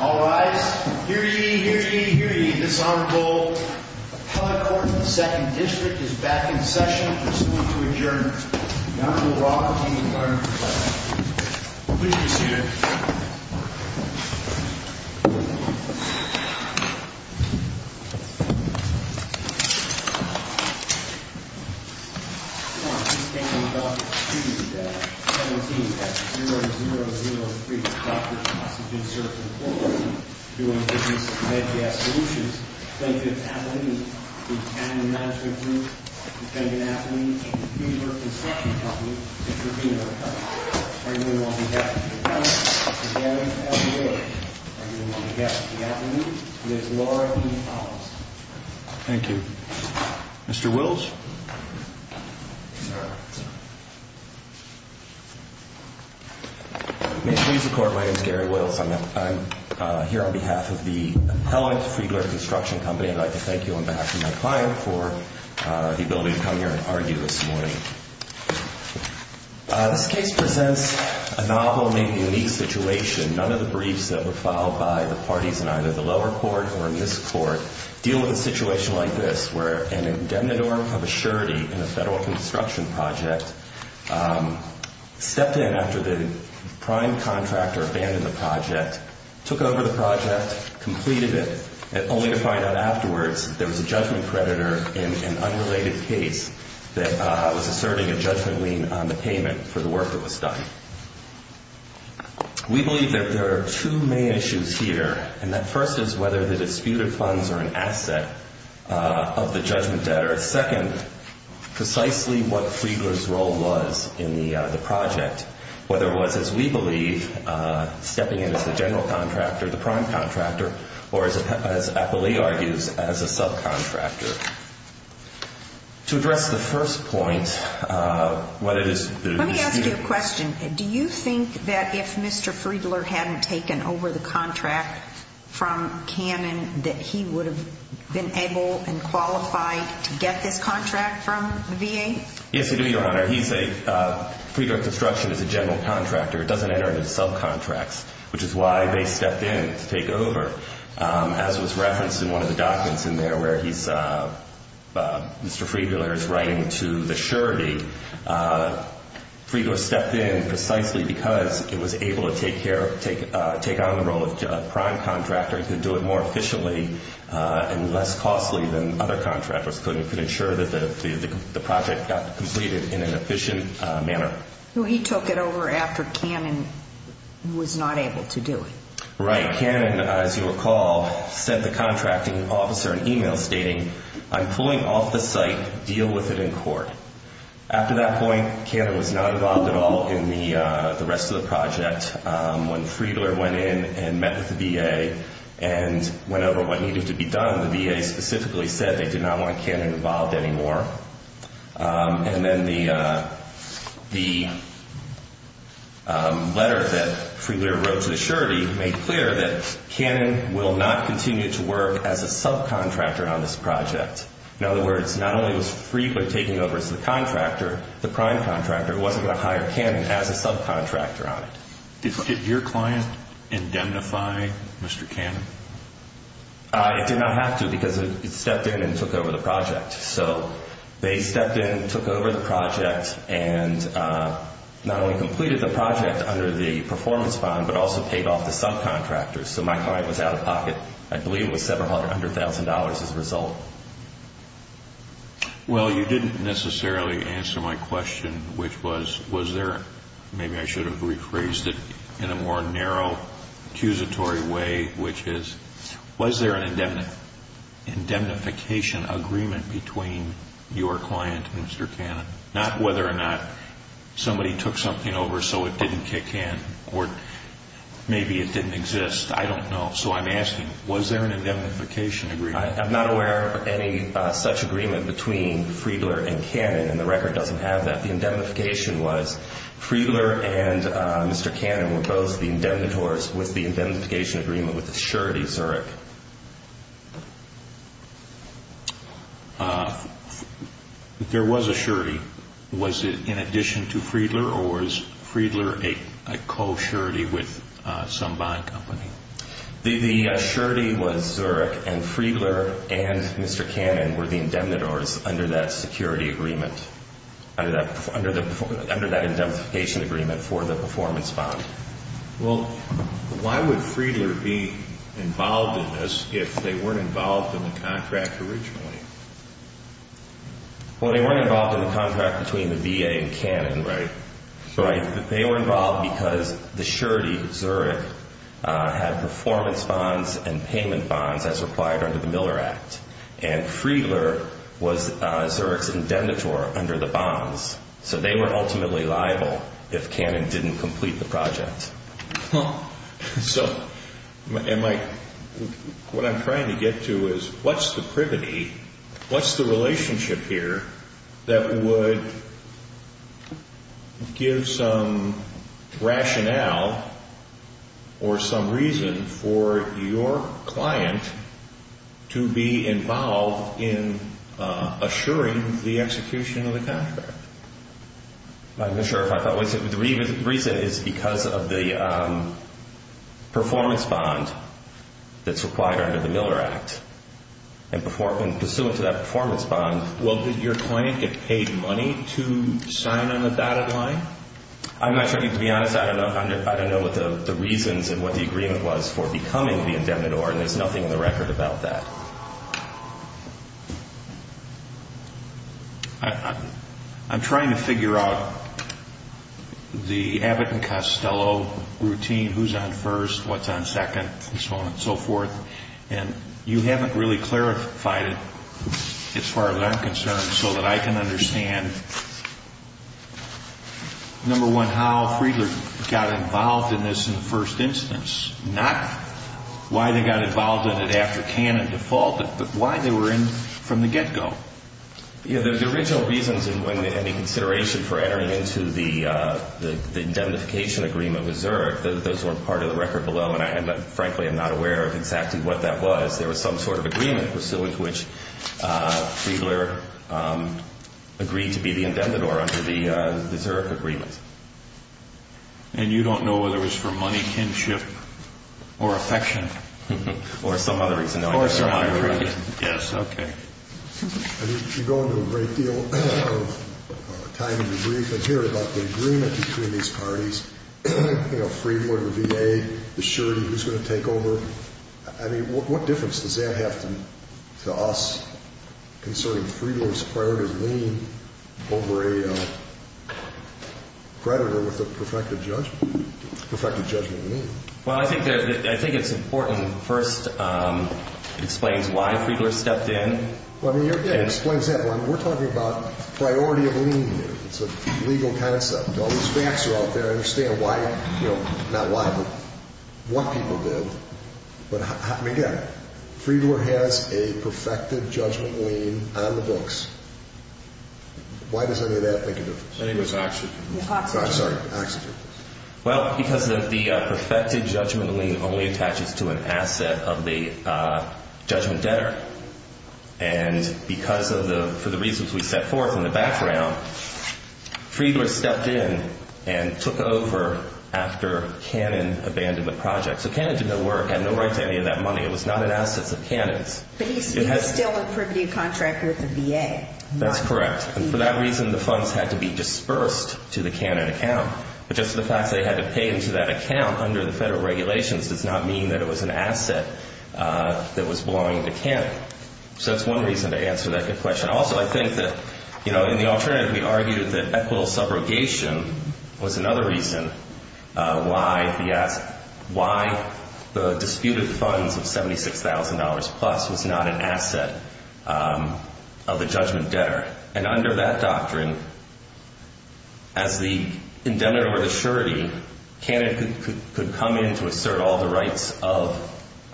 All rise. Hear ye, hear ye, hear ye. This Honorable Appellate Court of the 2nd District is back in session. Pursuant to adjournment, the Honorable Robert E. Gardner. Please be seated. This case is all but concluded. 17-0003, Dr. Oxygen Service Inc. doing business with MedCast Solutions. Thank you to the Appellate League, the Cannon Management Group, the Canyon Appellate, and the Phoenix River Construction Company for being our customers. Thank you. Thank you. Mr. Wills. May it please the Court, my name is Gary Wills. I'm here on behalf of the Appellate Freedler Construction Company. I'd like to thank you on behalf of my client for the ability to come here and argue this morning. This case presents a novel and unique situation. None of the briefs that were filed by the parties in either the lower court or in this court deal with a situation like this, where an indemnitor of a surety in a federal construction project stepped in after the prime contractor abandoned the project, took over the project, completed it, only to find out afterwards there was a judgment creditor in an unrelated case that was asserting a judgment lien on the payment for the work that was done. We believe that there are two main issues here, and that first is whether the disputed funds are an asset of the judgment debt, or second, precisely what Freedler's role was in the project, whether it was, as we believe, stepping in as the general contractor, the prime contractor, or as Appellee argues, as a subcontractor. To address the first point, what it is that is disputed. Let me ask you a question. Do you think that if Mr. Freedler hadn't taken over the contract from Cannon that he would have been able and qualified to get this contract from the VA? Yes, we do, Your Honor. He's a, Freedler Construction is a general contractor. It doesn't enter into subcontracts, which is why they stepped in to take over. As was referenced in one of the documents in there where he's, Mr. Freedler is writing to the surety, Freedler stepped in precisely because it was able to take on the role of prime contractor and could do it more efficiently and less costly than other contractors could and could ensure that the project got completed in an efficient manner. He took it over after Cannon was not able to do it. Right. Cannon, as you recall, sent the contracting officer an email stating, I'm pulling off the site, deal with it in court. After that point, Cannon was not involved at all in the rest of the project. When Freedler went in and met with the VA and went over what needed to be done, the VA specifically said they did not want Cannon involved anymore. And then the letter that Freedler wrote to the surety made clear that Cannon will not continue to work as a subcontractor on this project. In other words, not only was Freedler taking over as the contractor, the prime contractor, wasn't going to hire Cannon as a subcontractor on it. Did your client indemnify Mr. Cannon? It did not have to because it stepped in and took over the project. So they stepped in, took over the project, and not only completed the project under the performance fund, but also paid off the subcontractors. So my client was out of pocket. I believe it was several hundred thousand dollars as a result. Well, you didn't necessarily answer my question, which was, was there, maybe I should have rephrased it in a more narrow, accusatory way, which is, was there an indemnification agreement between your client and Mr. Cannon? Not whether or not somebody took something over so it didn't kick in or maybe it didn't exist. I don't know. So I'm asking, was there an indemnification agreement? I'm not aware of any such agreement between Freedler and Cannon, and the record doesn't have that. The indemnification was Freedler and Mr. Cannon were both the indemnitors with the indemnification agreement with a surety, Zurich. There was a surety. Was it in addition to Freedler, or was Freedler a co-surety with some bond company? The surety was Zurich, and Freedler and Mr. Cannon were the indemnitors under that security agreement, under that indemnification agreement for the performance bond. Well, why would Freedler be involved in this if they weren't involved in the contract originally? Well, they weren't involved in the contract between the VA and Cannon. Right. Right. They were involved because the surety, Zurich, had performance bonds and payment bonds, as required under the Miller Act, and Freedler was Zurich's indemnitor under the bonds, so they were ultimately liable if Cannon didn't complete the project. So, Mike, what I'm trying to get to is what's the privity, what's the relationship here that would give some rationale or some reason for your client to be involved in assuring the execution of the contract? I'm not sure if I follow. The reason is because of the performance bond that's required under the Miller Act, and pursuant to that performance bond. Well, did your client get paid money to sign on the dotted line? I'm not sure. To be honest, I don't know what the reasons and what the agreement was for becoming the indemnitor, and there's nothing in the record about that. I'm trying to figure out the Abbott and Costello routine, who's on first, what's on second, and so on and so forth, and you haven't really clarified it as far as I'm concerned so that I can understand, number one, how Freedler got involved in this in the first instance, not why they got involved in it after Cannon defaulted, but why they were in from the get-go. The original reasons and consideration for entering into the indemnification agreement with Zurich, those were part of the record below, and, frankly, I'm not aware of exactly what that was. There was some sort of agreement pursuant to which Freedler agreed to be the indemnitor under the Zurich agreement. And you don't know whether it was for money, kinship, or affection? Or some other reason. Or some other reason, yes. Okay. You go into a great deal of time in the brief and hear about the agreement between these parties, you know, Freedler, the VA, the surety, who's going to take over. I mean, what difference does that have to us concerning Freedler's prior to the lien over a creditor with a perfected judgment? Perfected judgment lien. Well, I think it's important, first, it explains why Freedler stepped in. Well, I mean, again, it explains that. We're talking about priority of lien here. It's a legal concept. All these facts are out there. I understand why, you know, not why, but what people did. But, again, Freedler has a perfected judgment lien on the books. Why does any of that make a difference? I think it's oxygen. Yeah, oxygen. Sorry, oxygen. Well, because the perfected judgment lien only attaches to an asset of the judgment debtor. And because of the reasons we set forth in the background, Freedler stepped in and took over after Cannon abandoned the project. So Cannon did no work, had no right to any of that money. It was not an asset of Cannon's. But he's still a privity of contract with the VA. That's correct. And for that reason, the funds had to be dispersed to the Cannon account. But just the fact they had to pay into that account under the federal regulations does not mean that it was an asset that was belonging to Cannon. So that's one reason to answer that good question. Also, I think that, you know, in the alternative, we argued that equitable subrogation was another reason why the disputed funds of $76,000 plus was not an asset of the judgment debtor. And under that doctrine, as the indemnity or the surety, Cannon could come in to assert all the rights of,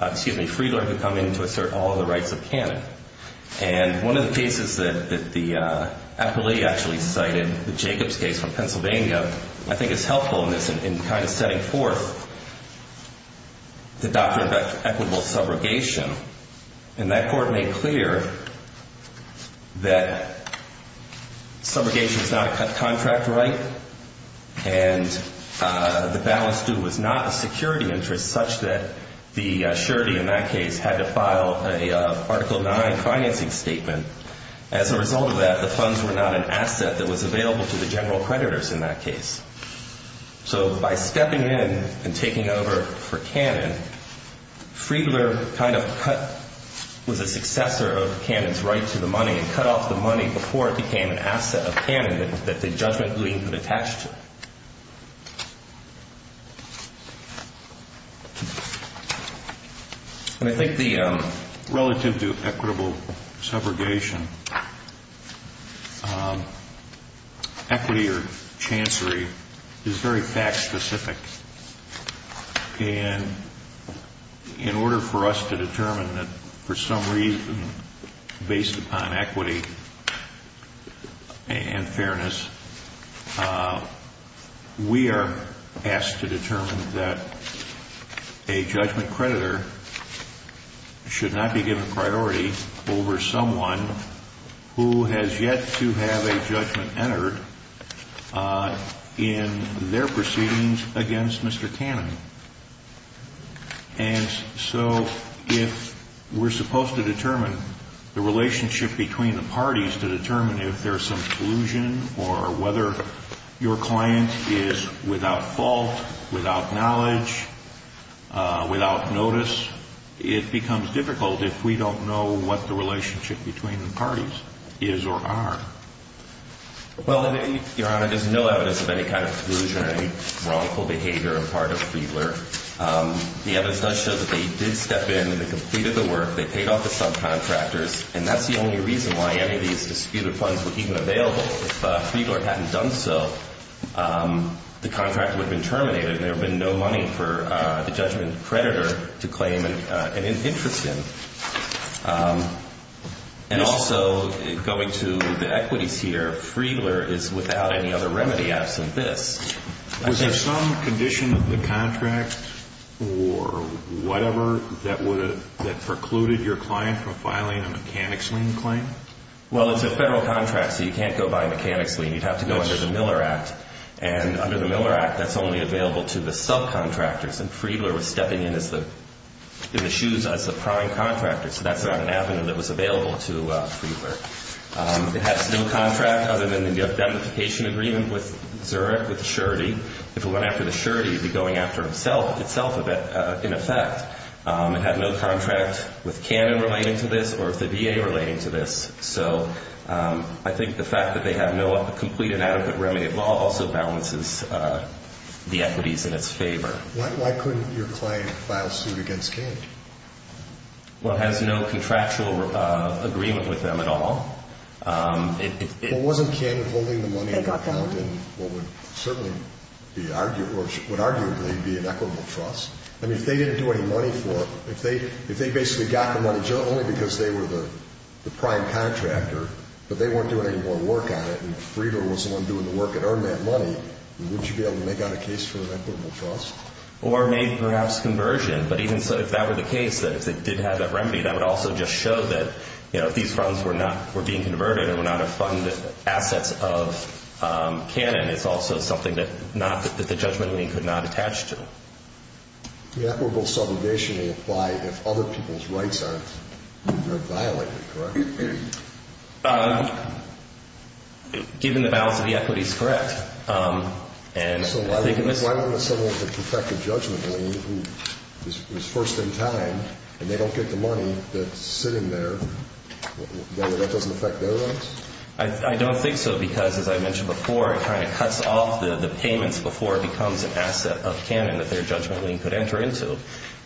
excuse me, Freedler could come in to assert all the rights of Cannon. And one of the cases that the appellee actually cited, the Jacobs case from Pennsylvania, I think is helpful in this in kind of setting forth the doctrine of equitable subrogation. And that court made clear that subrogation is not a contract right and the balance due was not a security interest such that the surety in that case had to file an Article IX financing statement. As a result of that, the funds were not an asset that was available to the general creditors in that case. So by stepping in and taking over for Cannon, Freedler kind of was a successor of Cannon's right to the money and cut off the money before it became an asset of Cannon that the judgment lien would attach to. And I think the relative to equitable subrogation, equity or chancery is very fact specific. And in order for us to determine that for some reason, based upon equity and fairness, we are asked to determine that a judgment creditor should not be given priority over someone who has yet to have a judgment entered in their proceedings against Cannon. And so if we're supposed to determine the relationship between the parties to determine if there's some collusion or whether your client is without fault, without knowledge, without notice, it becomes difficult if we don't know what the relationship between the parties is or are. Well, Your Honor, there's no evidence of any kind of collusion or any wrongful behavior on the part of Freedler. The evidence does show that they did step in and they completed the work. They paid off the subcontractors. And that's the only reason why any of these disputed funds were even available. If Freedler hadn't done so, the contract would have been terminated and there would have been no money for the judgment creditor to claim an interest in. And also, going to the equities here, Freedler is without any other remedy absent this. Was there some condition of the contract or whatever that precluded your client from filing a mechanics lien claim? Well, it's a federal contract, so you can't go by mechanics lien. You'd have to go under the Miller Act. And under the Miller Act, that's only available to the subcontractors. And Freedler was stepping in the shoes as the prime contractor, so that's not an avenue that was available to Freedler. It has no contract other than the indemnification agreement with Zurich, with the surety. If it went after the surety, it would be going after itself in effect. It had no contract with Cannon relating to this or with the VA relating to this. So I think the fact that they have no complete and adequate remedy at law also balances the equities in its favor. Why couldn't your client file suit against Cannon? Well, it has no contractual agreement with them at all. Well, wasn't Cannon holding the money in an account in what would certainly be arguably be an equitable trust? I mean, if they didn't do any money for it, if they basically got the money only because they were the prime contractor, but they weren't doing any more work on it and Freedler was the one doing the work and earned that money, wouldn't you be able to make out a case for an equitable trust? Or maybe perhaps conversion. But even so, if that were the case, that if they did have that remedy, that would also just show that, you know, if these funds were being converted and were not a funded assets of Cannon, it's also something that the judgment meeting could not attach to. The equitable subrogation may apply if other people's rights are violated, correct? Given the balance of the equities, correct. So why wouldn't someone who could protect the judgment meeting who was first in time and they don't get the money that's sitting there, that doesn't affect their rights? I don't think so because, as I mentioned before, it kind of cuts off the payments before it becomes an asset of Cannon that their judgment meeting could enter into.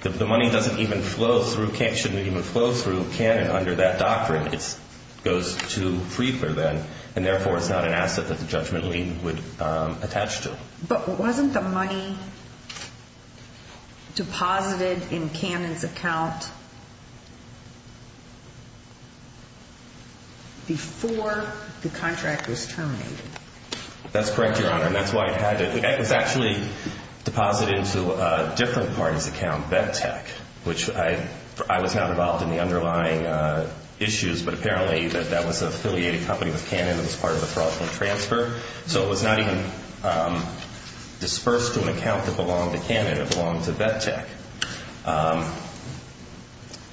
The money doesn't even flow through, shouldn't even flow through Cannon under that doctrine. It goes to Freedler then and therefore it's not an asset that the judgment meeting would attach to. But wasn't the money deposited in Cannon's account before the contract was terminated? That's correct, Your Honor. It was actually deposited into a different party's account, Vet Tech, which I was not involved in the underlying issues, but apparently that was an affiliated company with Cannon that was part of the fraudulent transfer. So it was not even dispersed to an account that belonged to Cannon, it belonged to Vet Tech.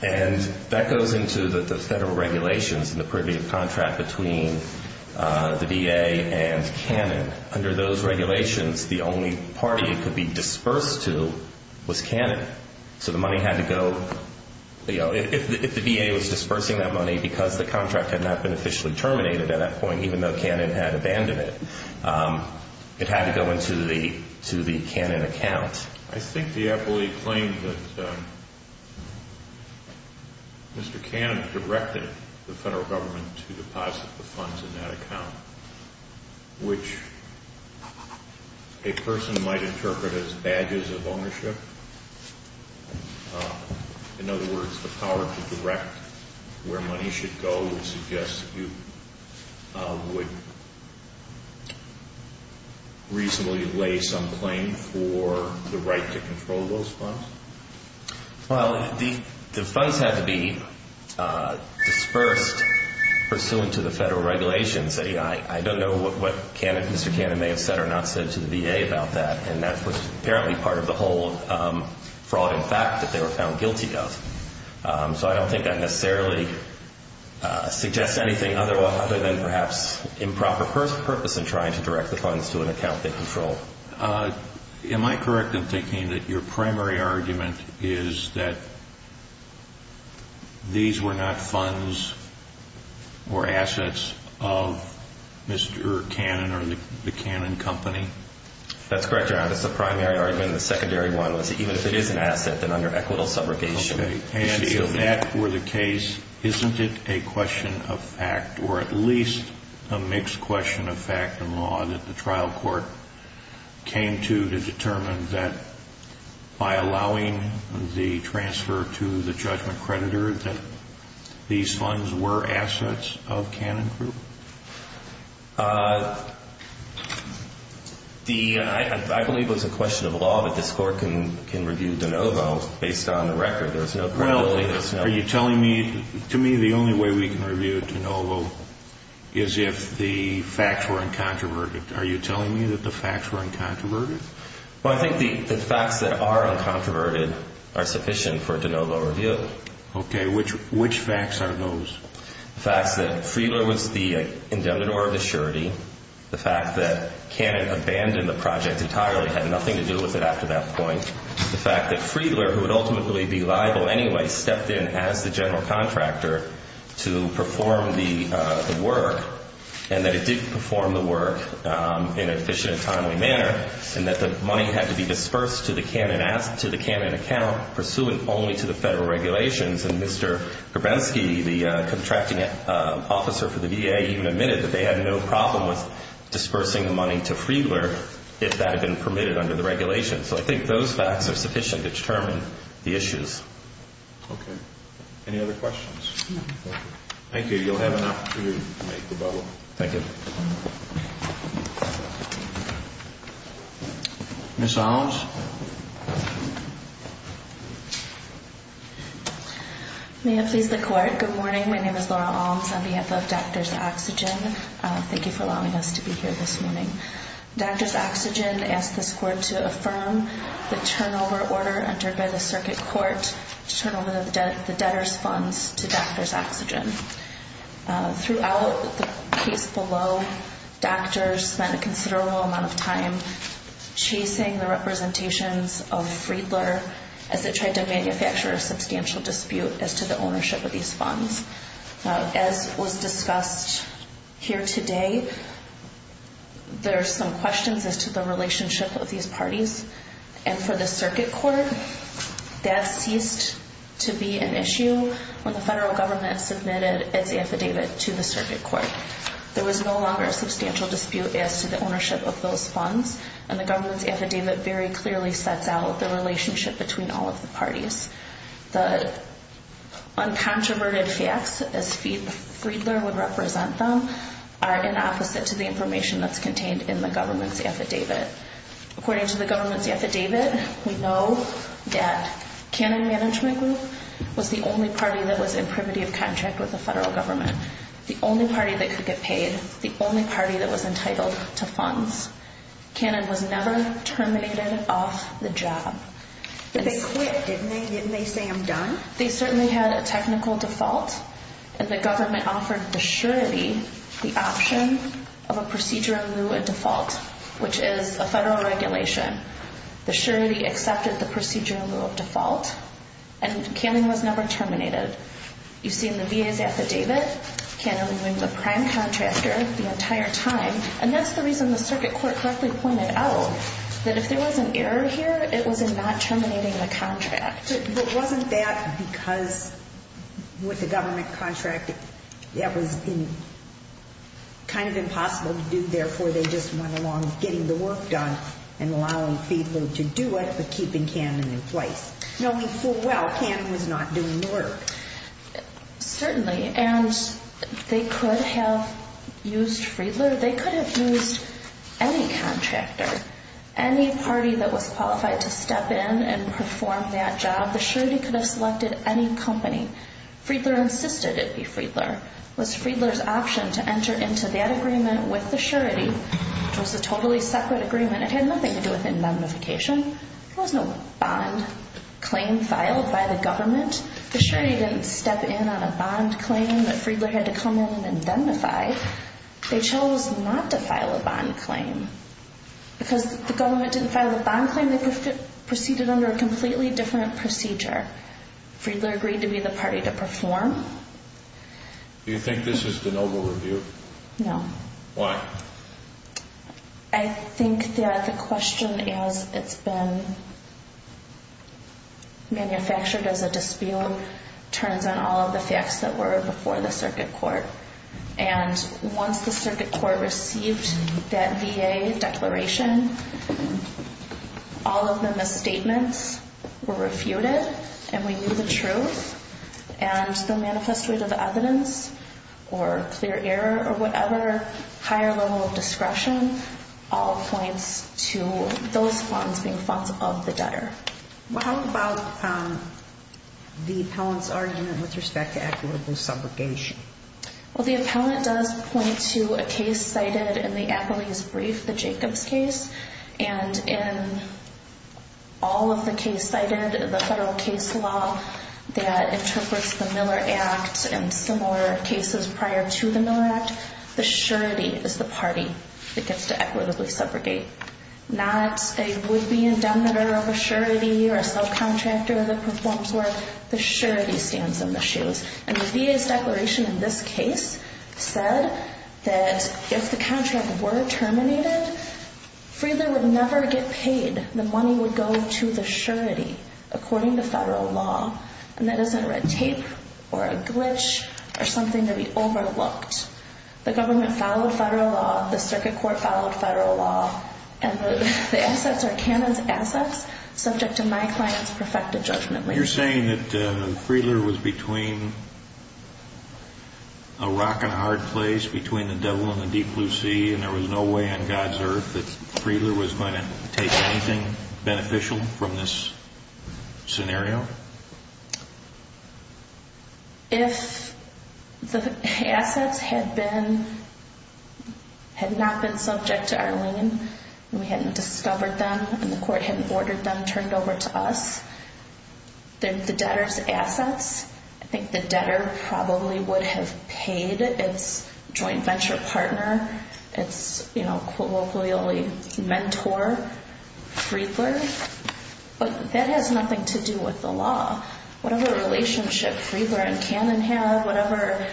And that goes into the federal regulations and the privy contract between the VA and Cannon. Under those regulations, the only party it could be dispersed to was Cannon. So the money had to go, if the VA was dispersing that money because the contract had not been officially terminated at that point, even though Cannon had abandoned it, it had to go into the Cannon account. I think the appellee claimed that Mr. Cannon directed the federal government to deposit the funds in that account, which a person might interpret as badges of ownership. In other words, the power to direct where money should go would suggest that you would reasonably lay some claim for the right to control those funds? Well, the funds had to be dispersed pursuant to the federal regulations. I don't know what Mr. Cannon may have said or not said to the VA about that, and that was apparently part of the whole fraud and fact that they were found guilty of. So I don't think that necessarily suggests anything other than perhaps improper purpose in trying to direct the funds to an account they control. Am I correct in thinking that your primary argument is that these were not funds or assets of Mr. Cannon or the Cannon Company? That's correct, Your Honor. That's the primary argument, and the secondary one was that even if it is an asset, then under equitable subrogation it should be. If that were the case, isn't it a question of fact, or at least a mixed question of fact in law, that the trial court came to to determine that by allowing the transfer to the judgment creditor that these funds were assets of Cannon Group? I believe it was a question of law, but this Court can review de novo based on the record. Well, are you telling me, to me the only way we can review de novo is if the facts were uncontroverted. Are you telling me that the facts were uncontroverted? Well, I think the facts that are uncontroverted are sufficient for de novo review. Okay, which facts are those? The facts that Friedler was the indemnitor of the surety, the fact that Cannon abandoned the project entirely, had nothing to do with it after that point, the fact that Friedler, who would ultimately be liable anyway, stepped in as the general contractor to perform the work, and that it did perform the work in an efficient and timely manner, and that the money had to be dispersed to the Cannon account pursuant only to the federal regulations, and Mr. Grabensky, the contracting officer for the VA, even admitted that they had no problem with dispersing the money to Friedler if that had been permitted under the regulations. So I think those facts are sufficient to determine the issues. Okay. Any other questions? No. Thank you. You'll have an opportunity to make the bubble. Thank you. Ms. Alms? May it please the Court. Good morning. My name is Laura Alms on behalf of Doctors Oxygen. Thank you for allowing us to be here this morning. Doctors Oxygen asked this Court to affirm the turnover order entered by the circuit court to turn over the debtors' funds to Doctors Oxygen. Throughout the case below, doctors spent a considerable amount of time chasing the representations of Friedler as it tried to manufacture a substantial dispute as to the ownership of these funds. As was discussed here today, there are some questions as to the relationship of these parties. And for the circuit court, that ceased to be an issue when the federal government submitted its affidavit to the circuit court. There was no longer a substantial dispute as to the ownership of those funds, and the government's affidavit very clearly sets out the relationship between all of the parties. The uncontroverted facts as Friedler would represent them are in opposite to the information that's contained in the government's affidavit. According to the government's affidavit, we know that Cannon Management Group was the only party that was in privity of contract with the federal government, the only party that could get paid, the only party that was entitled to funds. Cannon was never terminated off the job. But they quit, didn't they? Didn't they say, I'm done? They certainly had a technical default, and the government offered the surety the option of a procedure in lieu of default, which is a federal regulation. The surety accepted the procedure in lieu of default, and Cannon was never terminated. You see in the VA's affidavit, Cannon remained the prime contractor the entire time, and that's the reason the circuit court correctly pointed out that if there was an error here, it was in not terminating the contract. But wasn't that because with the government contracting, that was kind of impossible to do, therefore they just went along getting the work done and allowing Friedler to do it, but keeping Cannon in place, knowing full well Cannon was not doing the work. Certainly, and they could have used Friedler. They could have used any contractor, any party that was qualified to step in and perform that job. The surety could have selected any company. Friedler insisted it be Friedler. It was Friedler's option to enter into that agreement with the surety, which was a totally separate agreement. It had nothing to do with indemnification. There was no bond claim filed by the government. The surety didn't step in on a bond claim that Friedler had to come in and indemnify. They chose not to file a bond claim. Because the government didn't file a bond claim, they proceeded under a completely different procedure. Friedler agreed to be the party to perform. Do you think this is the noble review? No. Why? I think that the question, as it's been manufactured as a dispute, turns on all of the facts that were before the circuit court. And once the circuit court received that VA declaration, all of the misstatements were refuted and we knew the truth. And the manifest rate of evidence or clear error or whatever, higher level of discretion, all points to those funds being funds of the debtor. How about the appellant's argument with respect to equitable subrogation? Well, the appellant does point to a case cited in the Appleby's brief, the Jacobs case. And in all of the cases cited, the federal case law that interprets the Miller Act and similar cases prior to the Miller Act, the surety is the party that gets to equitably subrogate. Not a would-be indemnitor of a surety or a subcontractor that performs work. The surety stands in the shoes. And the VA's declaration in this case said that if the contract were terminated, Friedler would never get paid. The money would go to the surety, according to federal law. And that isn't red tape or a glitch or something to be overlooked. The government followed federal law. The circuit court followed federal law. And the assets are Canada's assets, subject to my client's perfected judgment. You're saying that Friedler was between a rock and a hard place, between the devil and the deep blue sea, and there was no way on God's earth that Friedler was going to take anything beneficial from this scenario? If the assets had not been subject to our lien and we hadn't discovered them and the court hadn't ordered them turned over to us, they're the debtor's assets. I think the debtor probably would have paid its joint venture partner, its colloquially mentor, Friedler. But that has nothing to do with the law. Whatever relationship Friedler and Cannon have, whatever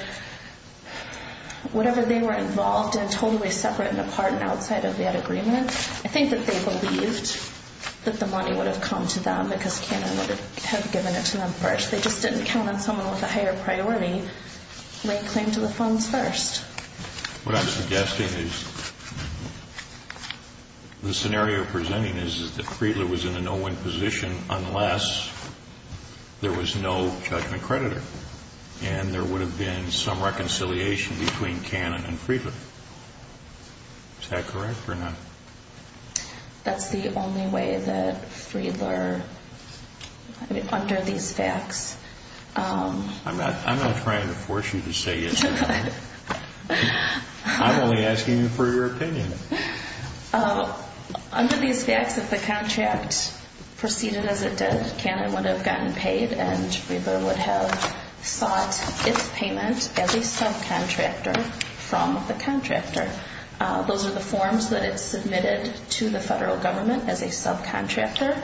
they were involved in totally separate and apart and outside of that agreement, I think that they believed that the money would have come to them because Cannon would have given it to them first. They just didn't count on someone with a higher priority laying claim to the funds first. What I'm suggesting is the scenario you're presenting is that Friedler was in a no-win position unless there was no judgment creditor and there would have been some reconciliation between Cannon and Friedler. Is that correct or not? That's the only way that Friedler, under these facts. I'm not trying to force you to say yes or no. I'm only asking you for your opinion. Under these facts, if the contract proceeded as it did, Cannon would have gotten paid and Friedler would have sought its payment as a subcontractor from the contractor. Those are the forms that it submitted to the federal government as a subcontractor.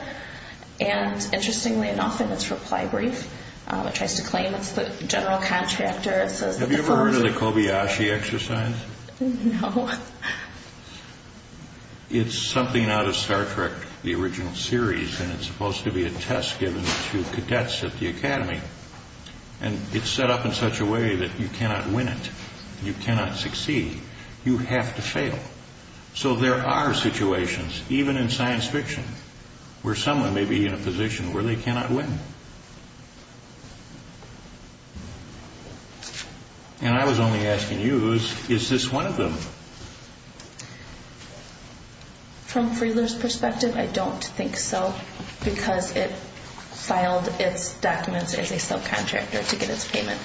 Interestingly enough, in its reply brief, it tries to claim it's the general contractor. Have you ever heard of the Kobayashi exercise? No. It's something out of Star Trek, the original series, and it's supposed to be a test given to cadets at the academy. It's set up in such a way that you cannot win it. You cannot succeed. You have to fail. So there are situations, even in science fiction, where someone may be in a position where they cannot win. And I was only asking you, is this one of them? From Friedler's perspective, I don't think so because it filed its documents as a subcontractor to get its payment.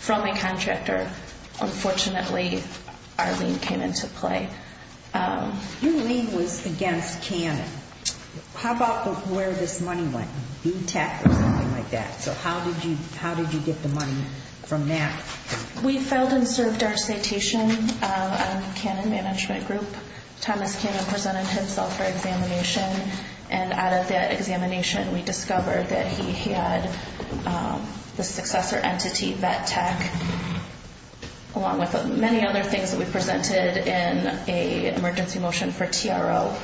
From a contractor, unfortunately, our lien came into play. Your lien was against Cannon. How about where this money went? BTEC or something like that? So how did you get the money from that? We filed and served our citation on the Cannon Management Group. Thomas Cannon presented himself for examination, and out of that examination, we discovered that he had the successor entity, BTEC, along with many other things that we presented in an emergency motion for TRO.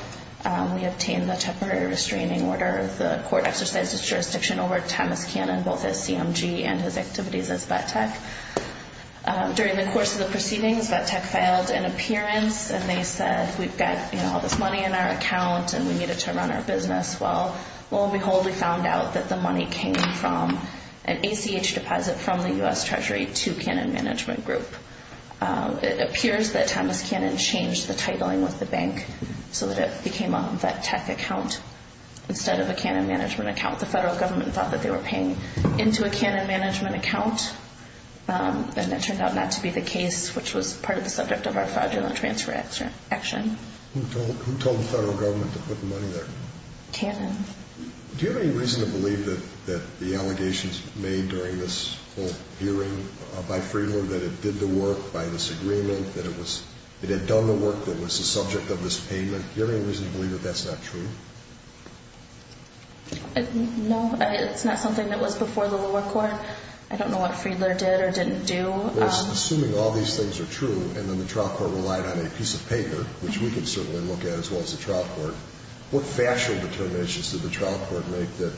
We obtained the temporary restraining order. The court exercised its jurisdiction over Thomas Cannon, both as CMG and his activities as BTEC. During the course of the proceedings, BTEC filed an appearance, and they said, we've got all this money in our account, and we need it to run our business. Well, lo and behold, we found out that the money came from an ACH deposit from the U.S. Treasury to Cannon Management Group. It appears that Thomas Cannon changed the titling with the bank so that it became a BTEC account instead of a Cannon Management account. The federal government thought that they were paying into a Cannon Management account, and it turned out not to be the case, which was part of the subject of our fraudulent transfer action. Who told the federal government to put the money there? Cannon. Do you have any reason to believe that the allegations made during this whole hearing by Friedler, that it did the work by this agreement, that it had done the work that was the subject of this payment, do you have any reason to believe that that's not true? No, it's not something that was before the lower court. I don't know what Friedler did or didn't do. Well, assuming all these things are true, and then the trial court relied on a piece of paper, which we can certainly look at as well as the trial court, what factual determinations did the trial court make that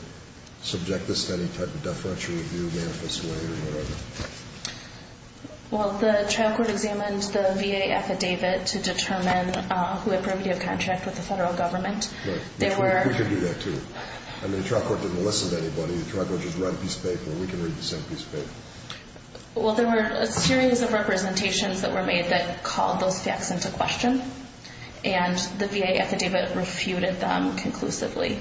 subject this to any type of deferential review, manifest way, or whatever? Well, the trial court examined the VA affidavit to determine who had prohibited a contract with the federal government. We could do that too. I mean, the trial court didn't listen to anybody. and we can read the same piece of paper. Well, there were a series of representations that were made that called those facts into question, and the VA affidavit refuted them conclusively.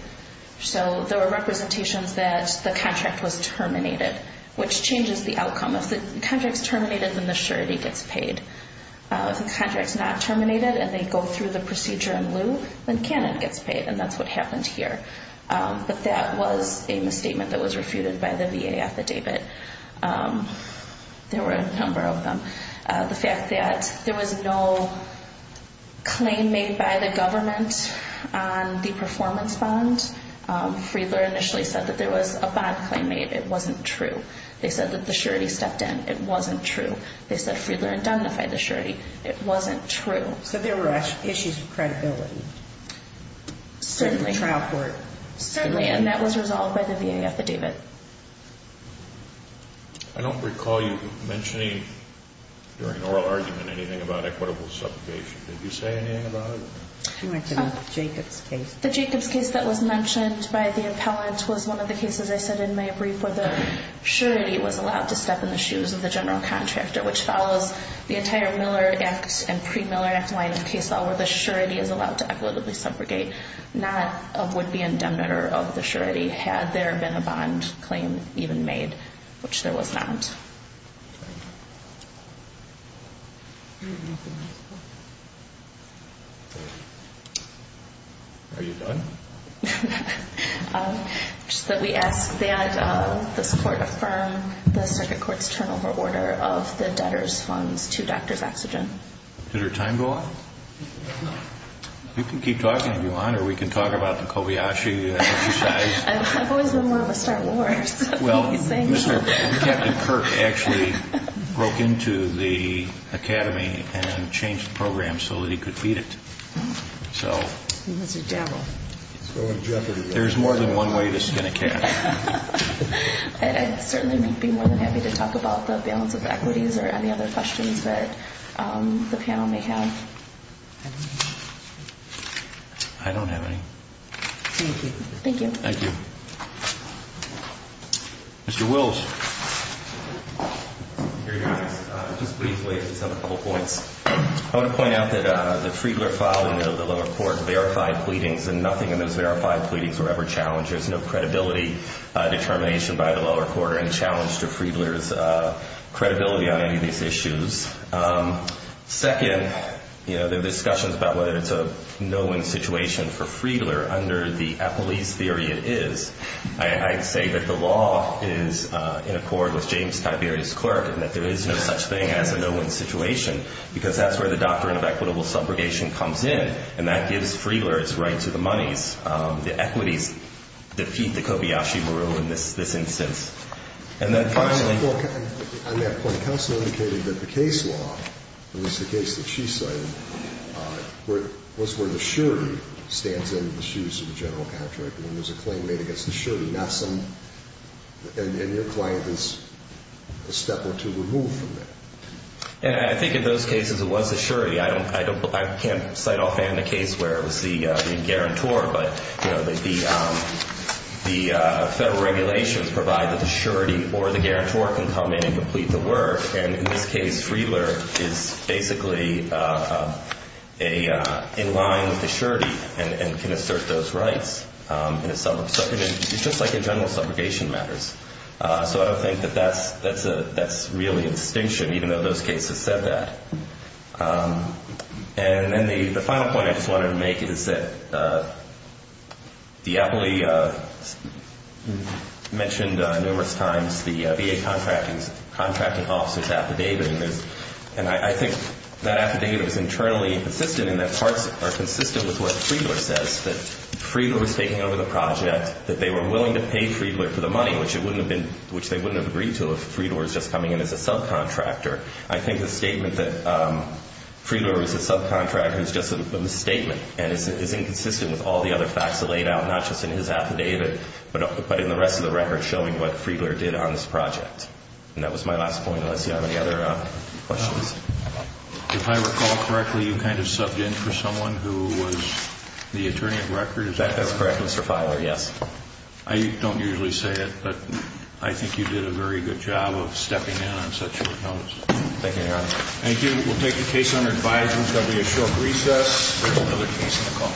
So there were representations that the contract was terminated, which changes the outcome. If the contract's terminated, then the surety gets paid. If the contract's not terminated, and they go through the procedure in lieu, then canon gets paid, and that's what happened here. But that was a misstatement that was refuted by the VA affidavit. There were a number of them. The fact that there was no claim made by the government on the performance bond. Friedler initially said that there was a bond claim made. It wasn't true. They said that the surety stepped in. It wasn't true. They said Friedler indemnified the surety. It wasn't true. So there were issues of credibility. Certainly. And that was resolved by the VA affidavit. I don't recall you mentioning during oral argument anything about equitable suffocation. Did you say anything about it? She went to the Jacobs case. The Jacobs case that was mentioned by the appellant was one of the cases I said in my brief where the surety was allowed to step in the shoes of the general contractor, which follows the entire Miller Act and pre-Miller Act line of case law where the surety is allowed to equitably suffocate, not a would-be indemnitor of the surety had there been a bond claim even made, which there was not. Are you done? Just that we ask that this court affirm the circuit court's turnover order of the debtor's funds to Dr. Saxogen. Did her time go up? We can keep talking if you want, or we can talk about the Kobayashi exercise. I've always been one to start wars. Well, Captain Kirk actually broke into the academy and changed the program so that he could feed it. There's more than one way to skin a cat. I'd certainly be more than happy to talk about the balance of equities or any other questions that the panel may have. I don't have any. Thank you. Thank you. Mr. Wills. I want to point out that the Friedler file in the lower court verified pleadings and nothing in those verified pleadings were ever challenged. There's no credibility determination by the lower court or any challenge to Friedler's credibility on any of these issues. Second, there are discussions about whether it's a no-win situation for Friedler under the Eppley's theory it is. I'd say that the law is in accord with James Tiberius' clerk and that there is no such thing as a no-win situation because that's where the doctrine of equitable subrogation comes in and that gives Friedler his right to the monies. The equities defeat the Kobayashi rule in this instance. On that point, counsel indicated that the case law, at least the case that she cited, was where the surety stands in the shoes of the general contract when there's a claim made against the surety, and your client is a step or two removed from that. I think in those cases it was the surety. I can't cite offhand a case where it was the guarantor, but the federal regulations provide that the surety or the guarantor can come in and complete the work, and in this case Friedler is basically in line with the surety and can assert those rights. It's just like in general subrogation matters. So I don't think that that's really an extinction, even though those cases said that. And then the final point I just wanted to make is that Diappoli mentioned numerous times the VA contracting officer's affidavit, and I think that affidavit was internally consistent in that parts are consistent with what Friedler says, that Friedler was taking over the project, that they were willing to pay Friedler for the money, which they wouldn't have agreed to if Friedler was just coming in as a subcontractor. I think the statement that Friedler was a subcontractor is just a misstatement, and it's inconsistent with all the other facts laid out, not just in his affidavit, but in the rest of the record showing what Friedler did on this project. And that was my last point, unless you have any other questions. If I recall correctly, you kind of subbed in for someone who was the attorney at record, is that correct? That's correct, Mr. Filer, yes. I don't usually say it, but I think you did a very good job of stepping in on such short notice. Thank you, Your Honor. Thank you. We'll take the case under advisement. It's going to be a short recess. There's another case on the call.